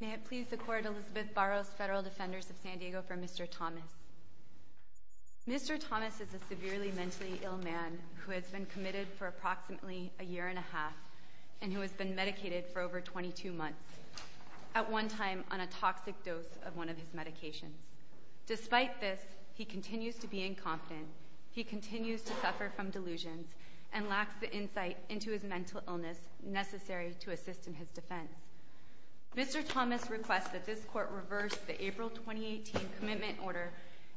May it please the Court, Elizabeth Barros, Federal Defenders of San Diego, for Mr. Thomas. Mr. Thomas is a severely mentally ill man who has been committed for approximately a year and a half, and who has been medicated for over 22 months, at one time on a toxic dose of one of his medications. Despite this, he continues to be incompetent, he continues to suffer from delusions, and lacks the insight into his mental illness necessary to assist in his defense. Mr. Thomas requests that this Court reverse the April 2018 commitment order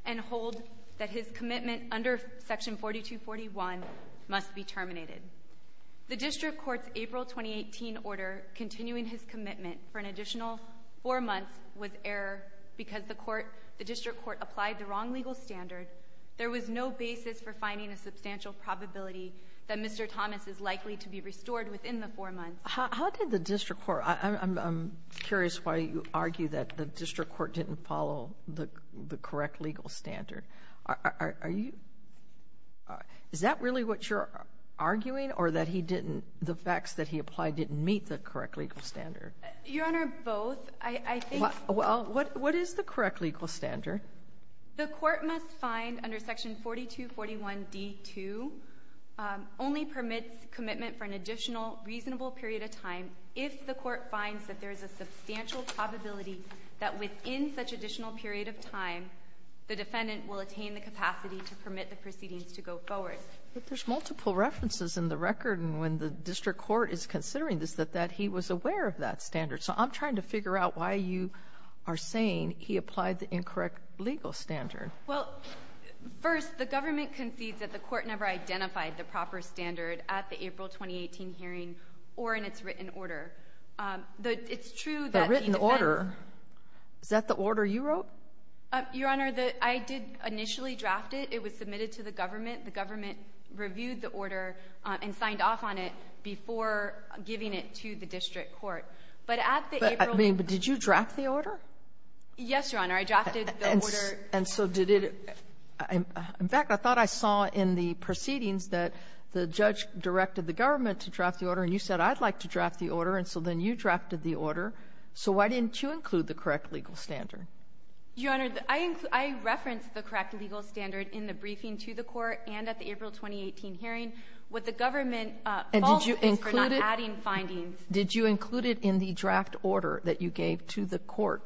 and hold that his commitment under Section 4241 must be terminated. The District Court's April 2018 order continuing his commitment for an additional four months was error because the District Court applied the wrong legal standard. There was no basis for finding a substantial probability that Mr. Thomas is likely to be restored within the four months. How did the District Court – I'm curious why you argue that the District Court didn't follow the correct legal standard. Are you – is that really what you're arguing, or that he didn't – the facts that he applied didn't meet the correct legal standard? Your Honor, both. I think – Well, what is the correct legal standard? The Court must find under Section 4241d2 only permits commitment for an additional reasonable period of time if the Court finds that there is a substantial probability that within such additional period of time the defendant will attain the capacity to permit the proceedings to go forward. But there's multiple references in the record, and when the District Court is considering this, that he was aware of that standard. So I'm trying to figure out why you are saying he applied the incorrect legal standard. Well, first, the government concedes that the Court never identified the proper standard at the April 2018 hearing or in its written order. It's true that the defense – The written order? Is that the order you wrote? Your Honor, I did initially draft it. It was submitted to the government. The government reviewed the order and signed off on it before giving it to the District Court. But at the April – But, I mean, did you draft the order? Yes, Your Honor. I drafted the order. And so did it – in fact, I thought I saw in the proceedings that the judge directed the government to draft the order, and you said, I'd like to draft the order. And so then you drafted the order. So why didn't you include the correct legal standard? Your Honor, I – I referenced the correct legal standard in the briefing to the Court and at the April 2018 hearing. What the government – And did you include it? Did you include it in the draft order that you gave to the Court?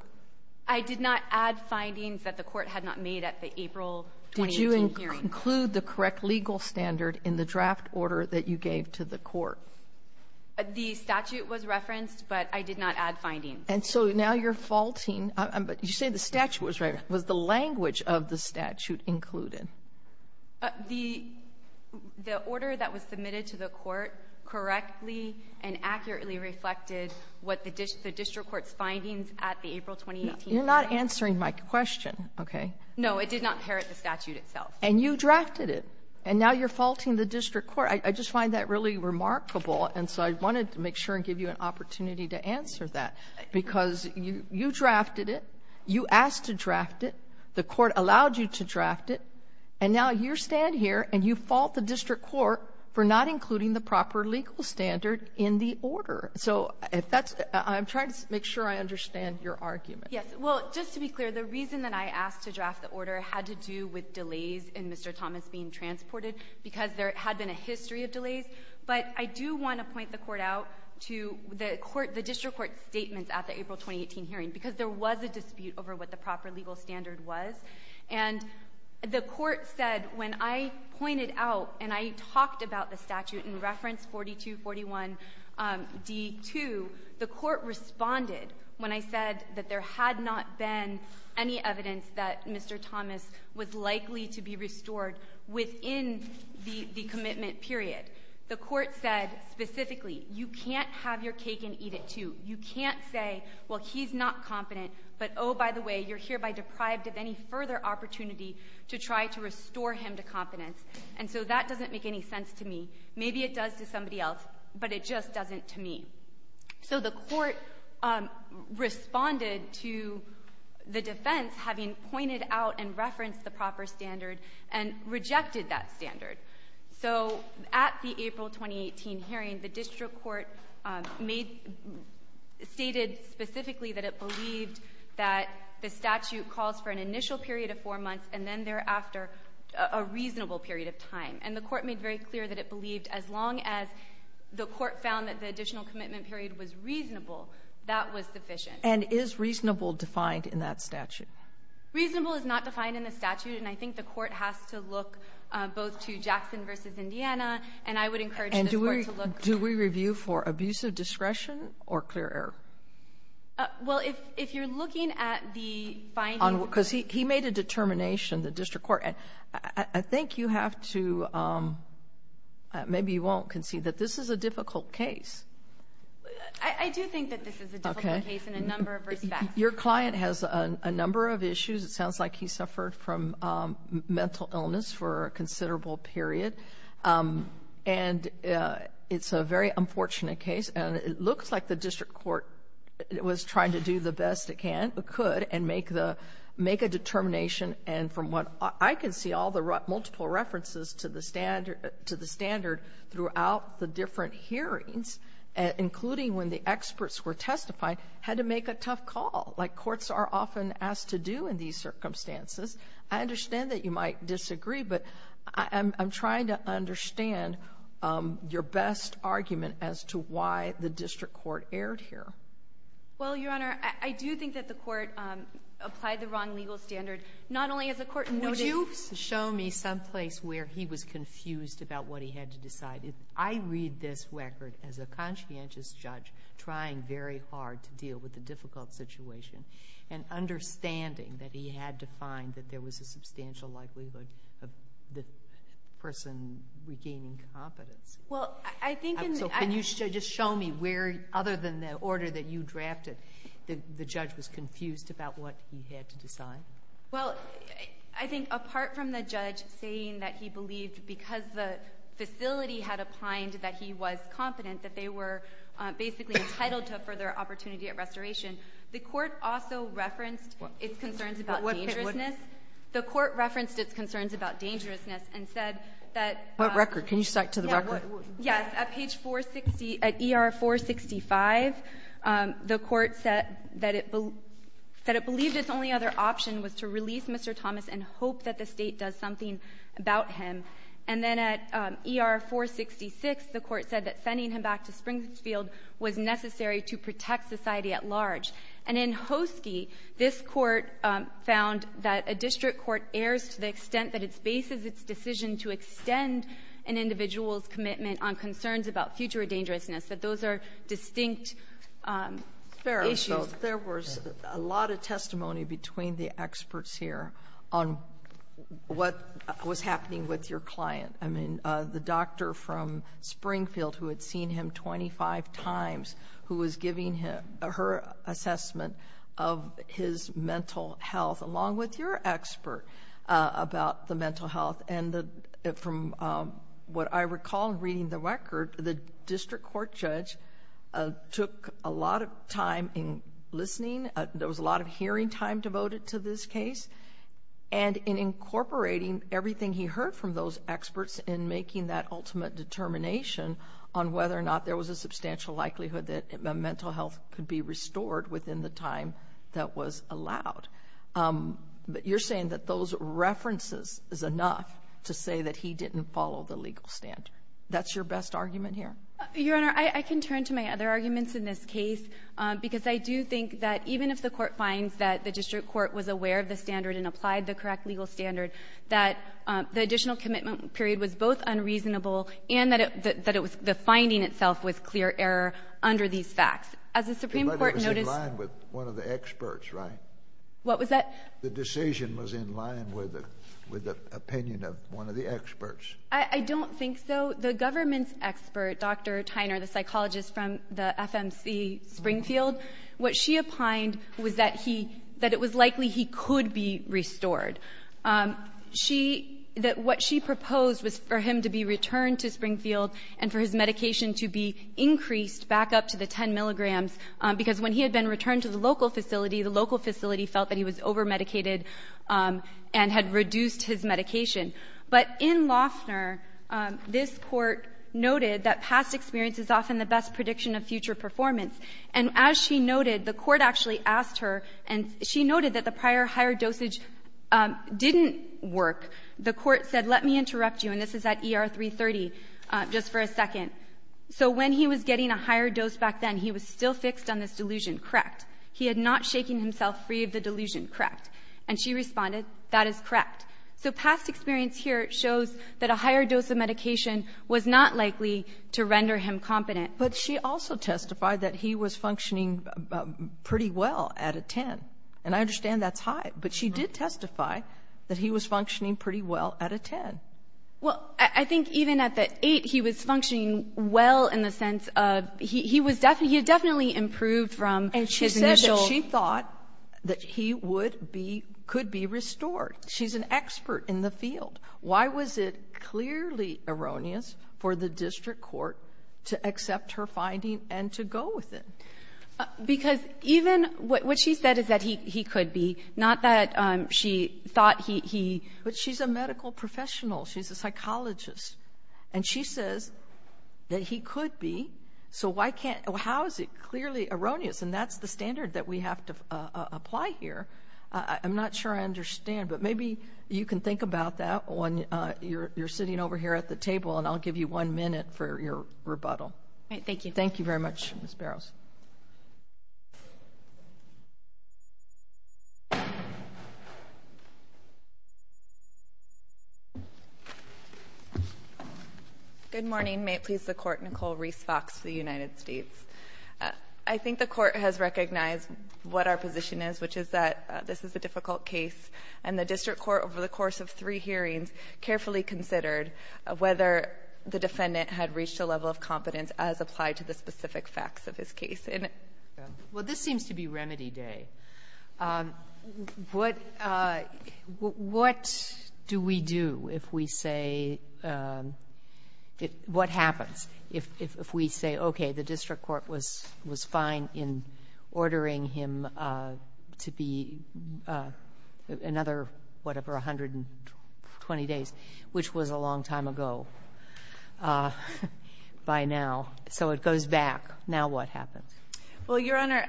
I did not add findings that the Court had not made at the April 2018 hearing. Did you include the correct legal standard in the draft order that you gave to the Court? The statute was referenced, but I did not add findings. And so now you're faulting – you say the statute was referenced. Was the language of the statute included? The – the order that was submitted to the Court correctly and accurately reflected what the district court's findings at the April 2018 hearing. You're not answering my question, okay? No, it did not inherit the statute itself. And you drafted it. And now you're faulting the district court. I just find that really remarkable, and so I wanted to make sure and give you an opportunity to answer that, because you drafted it, you asked to draft it, the And now you stand here and you fault the district court for not including the proper legal standard in the order. So if that's – I'm trying to make sure I understand your argument. Yes. Well, just to be clear, the reason that I asked to draft the order had to do with delays in Mr. Thomas being transported, because there had been a history of delays. But I do want to point the Court out to the court – the district court's statements at the April 2018 hearing, because there was a dispute over what the proper legal standard was. And the Court said when I pointed out and I talked about the statute in reference 4241d.2, the Court responded when I said that there had not been any evidence that Mr. Thomas was likely to be restored within the commitment period. The Court said specifically, you can't have your cake and eat it, too. You can't say, well, he's not competent, but oh, by the way, you're hereby deprived of any further opportunity to try to restore him to competence. And so that doesn't make any sense to me. Maybe it does to somebody else, but it just doesn't to me. So the Court responded to the defense having pointed out and referenced the proper standard and rejected that standard. So at the April 2018 hearing, the district court made – stated specifically that it believed that the statute calls for an initial period of four months and then thereafter a reasonable period of time. And the Court made very clear that it believed as long as the Court found that the additional commitment period was reasonable, that was sufficient. And is reasonable defined in that statute? Reasonable is not defined in the statute, and I think the Court has to look both to Jackson v. Indiana, and I would encourage this Court to look to – And do we review for abusive discretion or clear error? Well, if you're looking at the findings – Because he made a determination, the district court. I think you have to – maybe you won't concede that this is a difficult case. I do think that this is a difficult case in a number of respects. Your client has a number of issues. It sounds like he suffered from mental illness for a considerable period. And it's a very unfortunate case. And it looks like the district court was trying to do the best it could and make a determination. And from what I can see, all the multiple references to the standard throughout the different hearings, including when the experts were testifying, had to make a tough call, like courts are often asked to do in these circumstances. I understand that you might disagree, but I'm trying to understand your best argument as to why the district court erred here. Well, Your Honor, I do think that the court applied the wrong legal standard, not only as the court noted – Would you show me someplace where he was confused about what he had to decide? I read this record as a conscientious judge trying very hard to deal with the difficult situation and understanding that he had to find that there was a substantial likelihood of the person regaining competency. Well, I think in the – So can you just show me where, other than the order that you drafted, the judge was confused about what he had to decide? Well, I think apart from the judge saying that he believed, because the facility had opined that he was competent, that they were basically entitled to a further opportunity at restoration, the court also referenced its concerns about dangerousness. The court referenced its concerns about dangerousness and said that – What record? Can you cite to the record? Yes. At page 460 – at ER-465, the court said that it believed its only other option was to release Mr. Thomas and hope that the State does something about him. And then at ER-466, the court said that sending him back to Springfield was necessary to protect society at large. And in Hoski, this Court found that a district court errs to the extent that it bases its decision to extend an individual's commitment on concerns about future dangerousness, that those are distinct issues. Fair enough. There was a lot of testimony between the experts here on what was happening with your client, I mean, the doctor from Springfield who had seen him 25 times who was giving her assessment of his mental health along with your expert about the mental health. And from what I recall in reading the record, the district court judge took a lot of time in listening, there was a lot of hearing time devoted to this case, and in incorporating everything he heard from those experts in making that ultimate determination on whether or not there was a substantial likelihood that mental health could be restored within the time that was allowed. But you're saying that those references is enough to say that he didn't follow the legal standard. That's your best argument here? Your Honor, I can turn to my other arguments in this case because I do think that even if the court finds that the district court was aware of the standard and applied the correct legal standard, that the additional commitment period was both unreasonable and that it was the finding itself was clear error under these facts. As the Supreme Court noticed — But it was in line with one of the experts, right? What was that? The decision was in line with the opinion of one of the experts. I don't think so. The government's expert, Dr. Tyner, the psychologist from the FMC Springfield, what she opined was that he — that it was likely he could be restored. She — that what she proposed was for him to be returned to Springfield and for his medication to be increased back up to the 10 milligrams, because when he had been returned to the local facility, the local facility felt that he was overmedicated and had reduced his medication. But in Loeffner, this Court noted that past experience is often the best prediction of future performance, and as she noted, the Court actually asked her, and she noted that the prior higher dosage didn't work. The Court said, let me interrupt you, and this is at ER 330, just for a second. So when he was getting a higher dose back then, he was still fixed on this delusion. Correct. He had not shaken himself free of the delusion. Correct. And she responded, that is correct. So past experience here shows that a higher dose of medication was not likely to render him competent. But she also testified that he was functioning pretty well at a 10. And I understand that's high. But she did testify that he was functioning pretty well at a 10. Well, I think even at the 8, he was functioning well in the sense of he was — he had definitely improved from his initial — And she said that she thought that he would be — could be restored. She's an expert in the field. Why was it clearly erroneous for the district court to accept her finding and to go with it? Because even — what she said is that he could be, not that she thought he — But she's a medical professional. She's a psychologist. And she says that he could be. So why can't — how is it clearly erroneous? And that's the standard that we have to apply here. I'm not sure I understand, but maybe you can think about that when you're sitting over here at the table. And I'll give you one minute for your rebuttal. Thank you. Thank you very much, Ms. Barrows. Good morning. May it please the Court. Nicole Reese Fox for the United States. I think the Court has recognized what our position is, which is that this is a difficult case, and the district court, over the course of three hearings, carefully considered whether the defendant had reached a level of competence as applied to the specific facts of his case. Well, this seems to be remedy day. What — what do we do if we say — what happens if we say, okay, the district court was fine in ordering him to be another, whatever, 120 days, which was a long time ago by now. So it goes back. Now what happens? Well, Your Honor,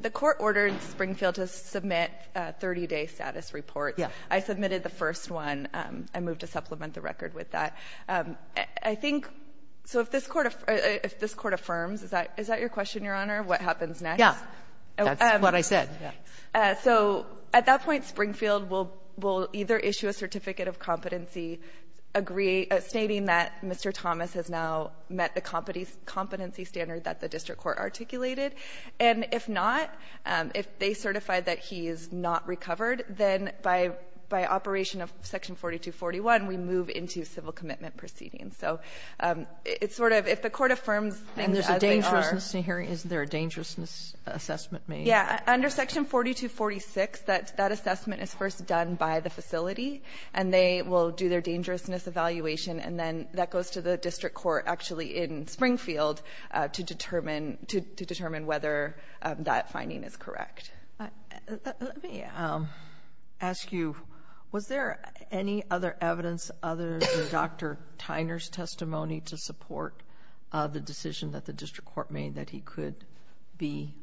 the court ordered Springfield to submit a 30-day status report. Yeah. I submitted the first one. I moved to supplement the record with that. I think — so if this Court — if this Court affirms, is that — is that your question, Your Honor, what happens next? Yeah. That's what I said, yeah. So at that point, Springfield will — will either issue a certificate of competency stating that Mr. Thomas has now met the competency standard that the district court articulated. And if not, if they certify that he is not recovered, then by — by operation of Section 4241, we move into civil commitment proceedings. So it's sort of — if the Court affirms things as they are — And there's a dangerousness hearing. Isn't there a dangerousness assessment made? Yeah. Under Section 4246, that — that assessment is first done by the facility, and they will do their dangerousness evaluation, and then that goes to the district court actually in Springfield to determine — to determine whether that finding is correct. Let me ask you, was there any other evidence other than Dr. Tyner's testimony to support the decision that the district court made that he could be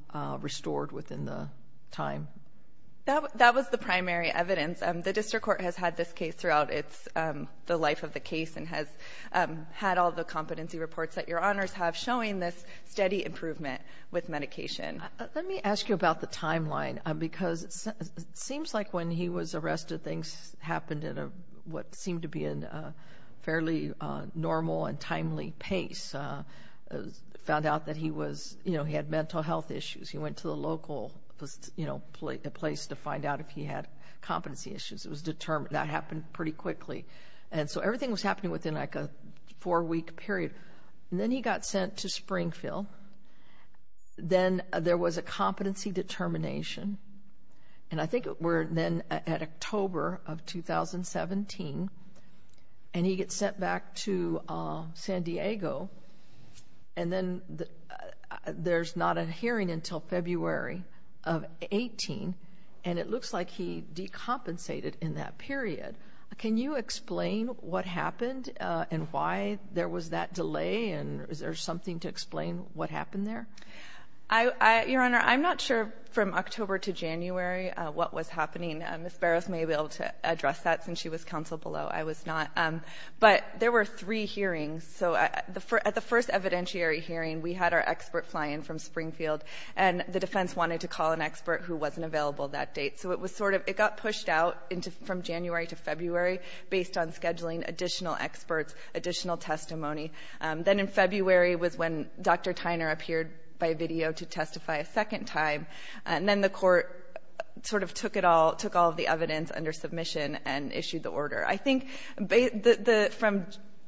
restored within the time? That — that was the primary evidence. The district court has had this case throughout its — the life of the case and has had all the competency reports that Your Honors have showing this steady improvement with medication. Let me ask you about the timeline, because it seems like when he was arrested, things happened in a — what seemed to be in a fairly normal and timely pace. Found out that he was — you know, he had mental health issues. He went to the local, you know, place to find out if he had competency issues. It was determined — that happened pretty quickly. And so everything was happening within like a four-week period. And then he got sent to Springfield. Then there was a competency determination. And I think we're then at October of 2017. And he gets sent back to San Diego. And then there's not a hearing until February of 18. And it looks like he decompensated in that period. Can you explain what happened and why there was that delay? And is there something to explain what happened there? I — Your Honor, I'm not sure from October to January what was happening. Ms. Barros may be able to address that, since she was counsel below. I was not. But there were three hearings. So at the first evidentiary hearing, we had our expert fly in from Springfield, and the defense wanted to call an expert who wasn't available that date. So it was sort of — it got pushed out from January to February based on scheduling additional experts, additional testimony. Then in February was when Dr. Tyner appeared by video to testify a second time. And then the court sort of took it all — took all of the evidence under submission and issued the order. I think the — from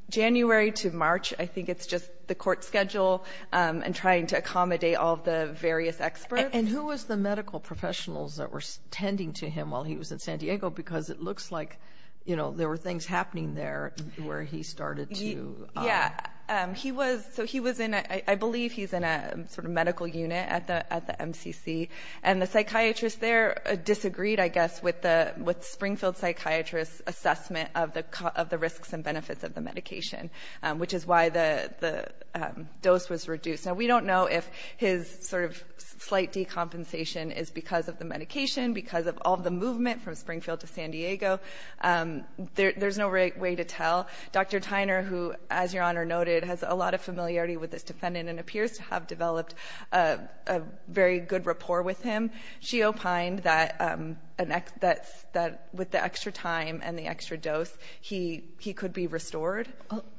January to March, I think it's just the court schedule and trying to accommodate all of the various experts. And who was the medical professionals that were tending to him while he was in San Diego? Because it looks like, you know, there were things happening there where he started to — Yeah. He was — so he was in — I believe he's in a sort of medical unit at the MCC. And the psychiatrist there disagreed, I guess, with Springfield psychiatrist's assessment of the risks and benefits of the medication, which is why the dose was reduced. Now, we don't know if his sort of slight decompensation is because of the medication, because of all the movement from Springfield to San Diego. There's no way to tell. Dr. Tyner, who, as Your Honor noted, has a lot of familiarity with this defendant and appears to have developed a very good rapport with him, she opined that an — that with the extra time and the extra dose, he could be restored.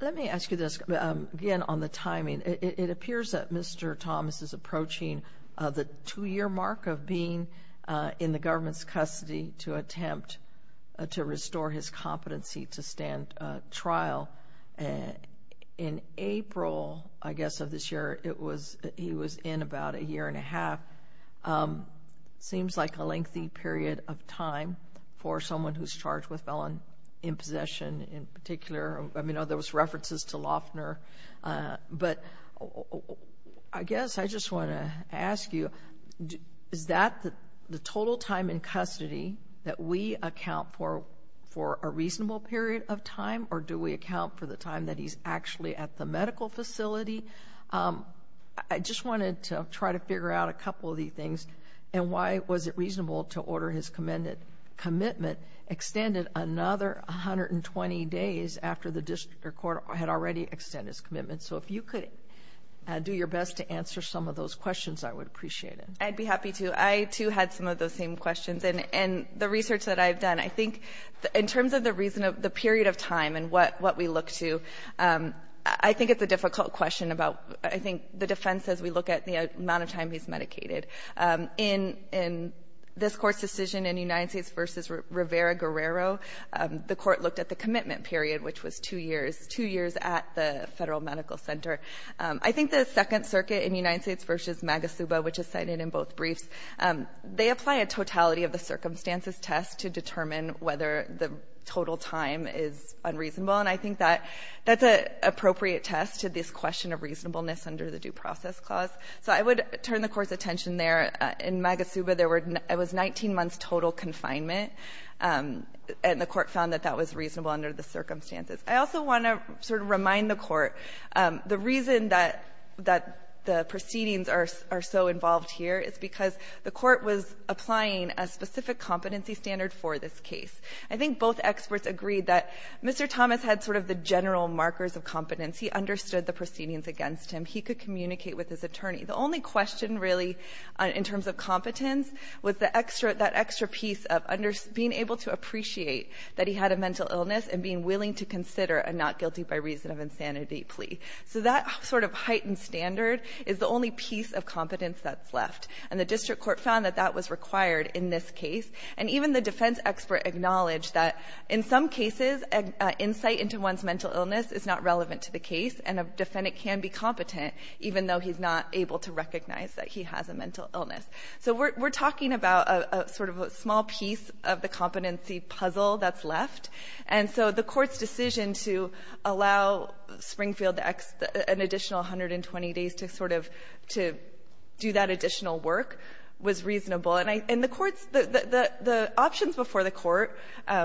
Let me ask you this, again, on the timing. It appears that Mr. Thomas is approaching the two-year mark of being in the government's competency to stand trial. In April, I guess, of this year, it was — he was in about a year and a half. Seems like a lengthy period of time for someone who's charged with felon impossession in particular. I mean, there was references to Loeffner. But I guess I just want to ask you, is that the total time in custody that we account for a reasonable period of time, or do we account for the time that he's actually at the medical facility? I just wanted to try to figure out a couple of these things, and why was it reasonable to order his commitment extended another 120 days after the District Court had already extended his commitment. So if you could do your best to answer some of those questions, I would appreciate it. I'd be happy to. I, too, had some of those same questions. And the research that I've done, I think in terms of the reason of the period of time and what we look to, I think it's a difficult question about, I think, the defense as we look at the amount of time he's medicated. In this Court's decision in United States v. Rivera-Guerrero, the Court looked at the commitment period, which was two years, two years at the Federal Medical Center. I think the Second Circuit in United States v. Magasuba, which is cited in both cases, looked at the circumstances test to determine whether the total time is unreasonable. And I think that that's an appropriate test to this question of reasonableness under the Due Process Clause. So I would turn the Court's attention there. In Magasuba, there were 19 months total confinement, and the Court found that that was reasonable under the circumstances. I also want to sort of remind the Court, the reason that the proceedings are so involved here is because the Court was applying a specific competency standard for this case. I think both experts agreed that Mr. Thomas had sort of the general markers of competence. He understood the proceedings against him. He could communicate with his attorney. The only question, really, in terms of competence was the extra, that extra piece of being able to appreciate that he had a mental illness and being willing to consider a not guilty by reason of insanity plea. So that sort of heightened standard is the only piece of competence that's left. And the district court found that that was required in this case. And even the defense expert acknowledged that in some cases, insight into one's mental illness is not relevant to the case, and a defendant can be competent even though he's not able to recognize that he has a mental illness. So we're talking about sort of a small piece of the competency puzzle that's left. And so the Court's decision to allow Springfield an additional 120 days to sort of do that additional work was reasonable. And the Court's, the options before the Court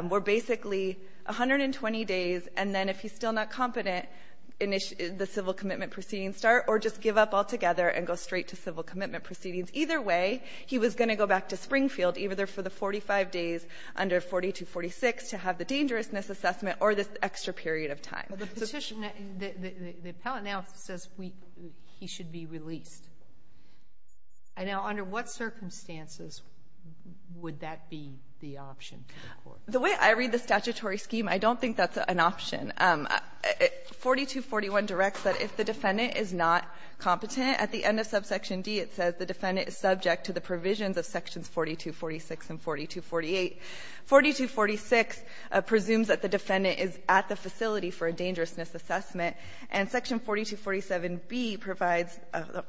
were basically 120 days, and then if he's still not competent, the civil commitment proceedings start, or just give up altogether and go straight to civil commitment proceedings. Either way, he was going to go back to Springfield, either for the 45 days under 4246 to have the dangerousness assessment or this extra period of time. Sotomayor, the Petitioner, the appellate now says he should be released. Now, under what circumstances would that be the option for the Court? The way I read the statutory scheme, I don't think that's an option. 4241 directs that if the defendant is not competent, at the end of subsection D, it says the defendant is subject to the provisions of sections 4246 and 4248. 4246 presumes that the defendant is at the facility for a dangerousness assessment, and section 4247b provides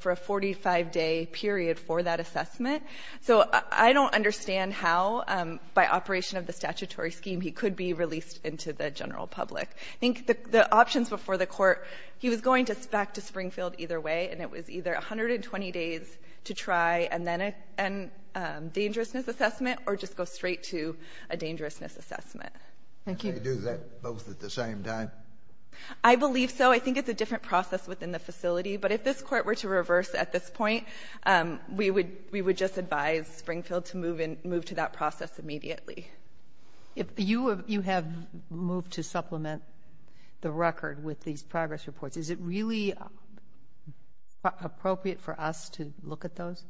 for a 45-day period for that assessment. So I don't understand how, by operation of the statutory scheme, he could be released into the general public. I think the options before the Court, he was going back to Springfield either way, and it was either 120 days to try, and then a dangerousness assessment, or just go straight to a dangerousness assessment. Thank you. Can you do that both at the same time? I believe so. I think it's a different process within the facility. But if this Court were to reverse at this point, we would just advise Springfield to move in, move to that process immediately. If you have moved to supplement the record with these progress reports, is it really appropriate for us to look at those?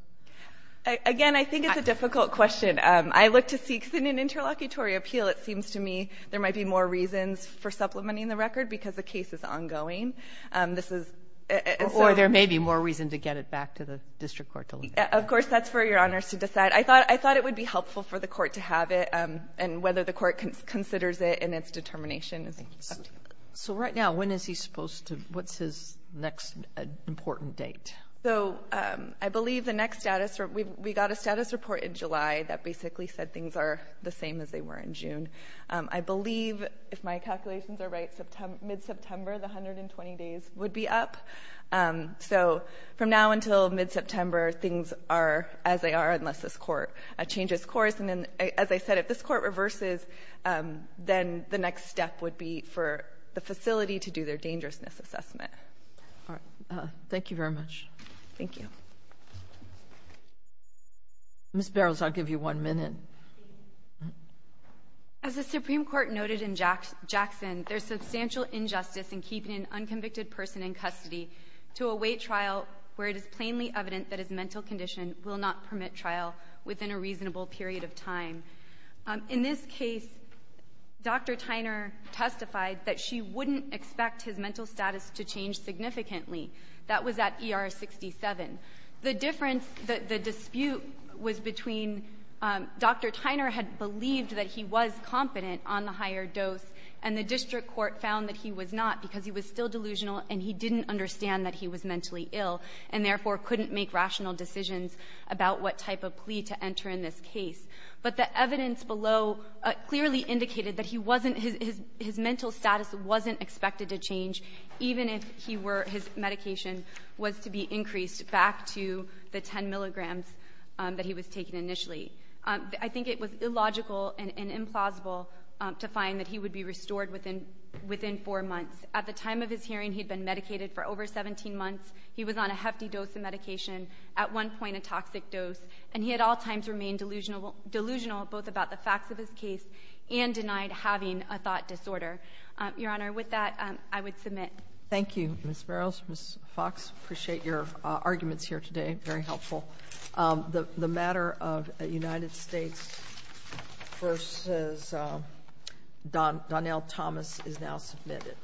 Again, I think it's a difficult question. I look to see, because in an interlocutory appeal, it seems to me there might be more reasons for supplementing the record, because the case is ongoing. This is so — Or there may be more reason to get it back to the district court to look at. Of course, that's for Your Honors to decide. I thought it would be helpful for the Court to have it, and whether the Court considers it in its determination is subject. So right now, when is he supposed to — what's his next important date? So I believe the next status — we got a status report in July that basically said things are the same as they were in June. I believe, if my calculations are right, mid-September, the 120 days would be up. So from now until mid-September, things are as they are, unless this Court changes course. And then, as I said, if this Court reverses, then the next step would be for the facility to do their dangerousness assessment. All right. Thank you very much. Thank you. Ms. Barrows, I'll give you one minute. As the Supreme Court noted in Jackson, there's substantial injustice in keeping an unconvicted person in custody to await trial where it is plainly evident that his mental condition will not permit trial within a reasonable period of time. In this case, Dr. Tyner testified that she wouldn't expect his mental status to change significantly. That was at ER 67. The difference — the dispute was between — Dr. Tyner had believed that he was competent on the higher dose, and the district court found that he was not because he was still delusional and he didn't understand that he was mentally ill and therefore couldn't make rational decisions about what type of plea to enter in this case. But the evidence below clearly indicated that he wasn't — his mental status wasn't expected to change even if he were — his medication was to be increased back to the 10 milligrams that he was taking initially. I think it was illogical and implausible to find that he would be restored within four months. At the time of his hearing, he had been medicated for over 17 months. He was on a hefty dose of medication, at one point a toxic dose, and he at all times remained delusional both about the facts of his case and denied having a thought disorder. Your Honor, with that, I would submit. Thank you, Ms. Farrells. Ms. Fox, appreciate your arguments here today. Very helpful. The matter of United States v. Donnell Thomas is now submitted.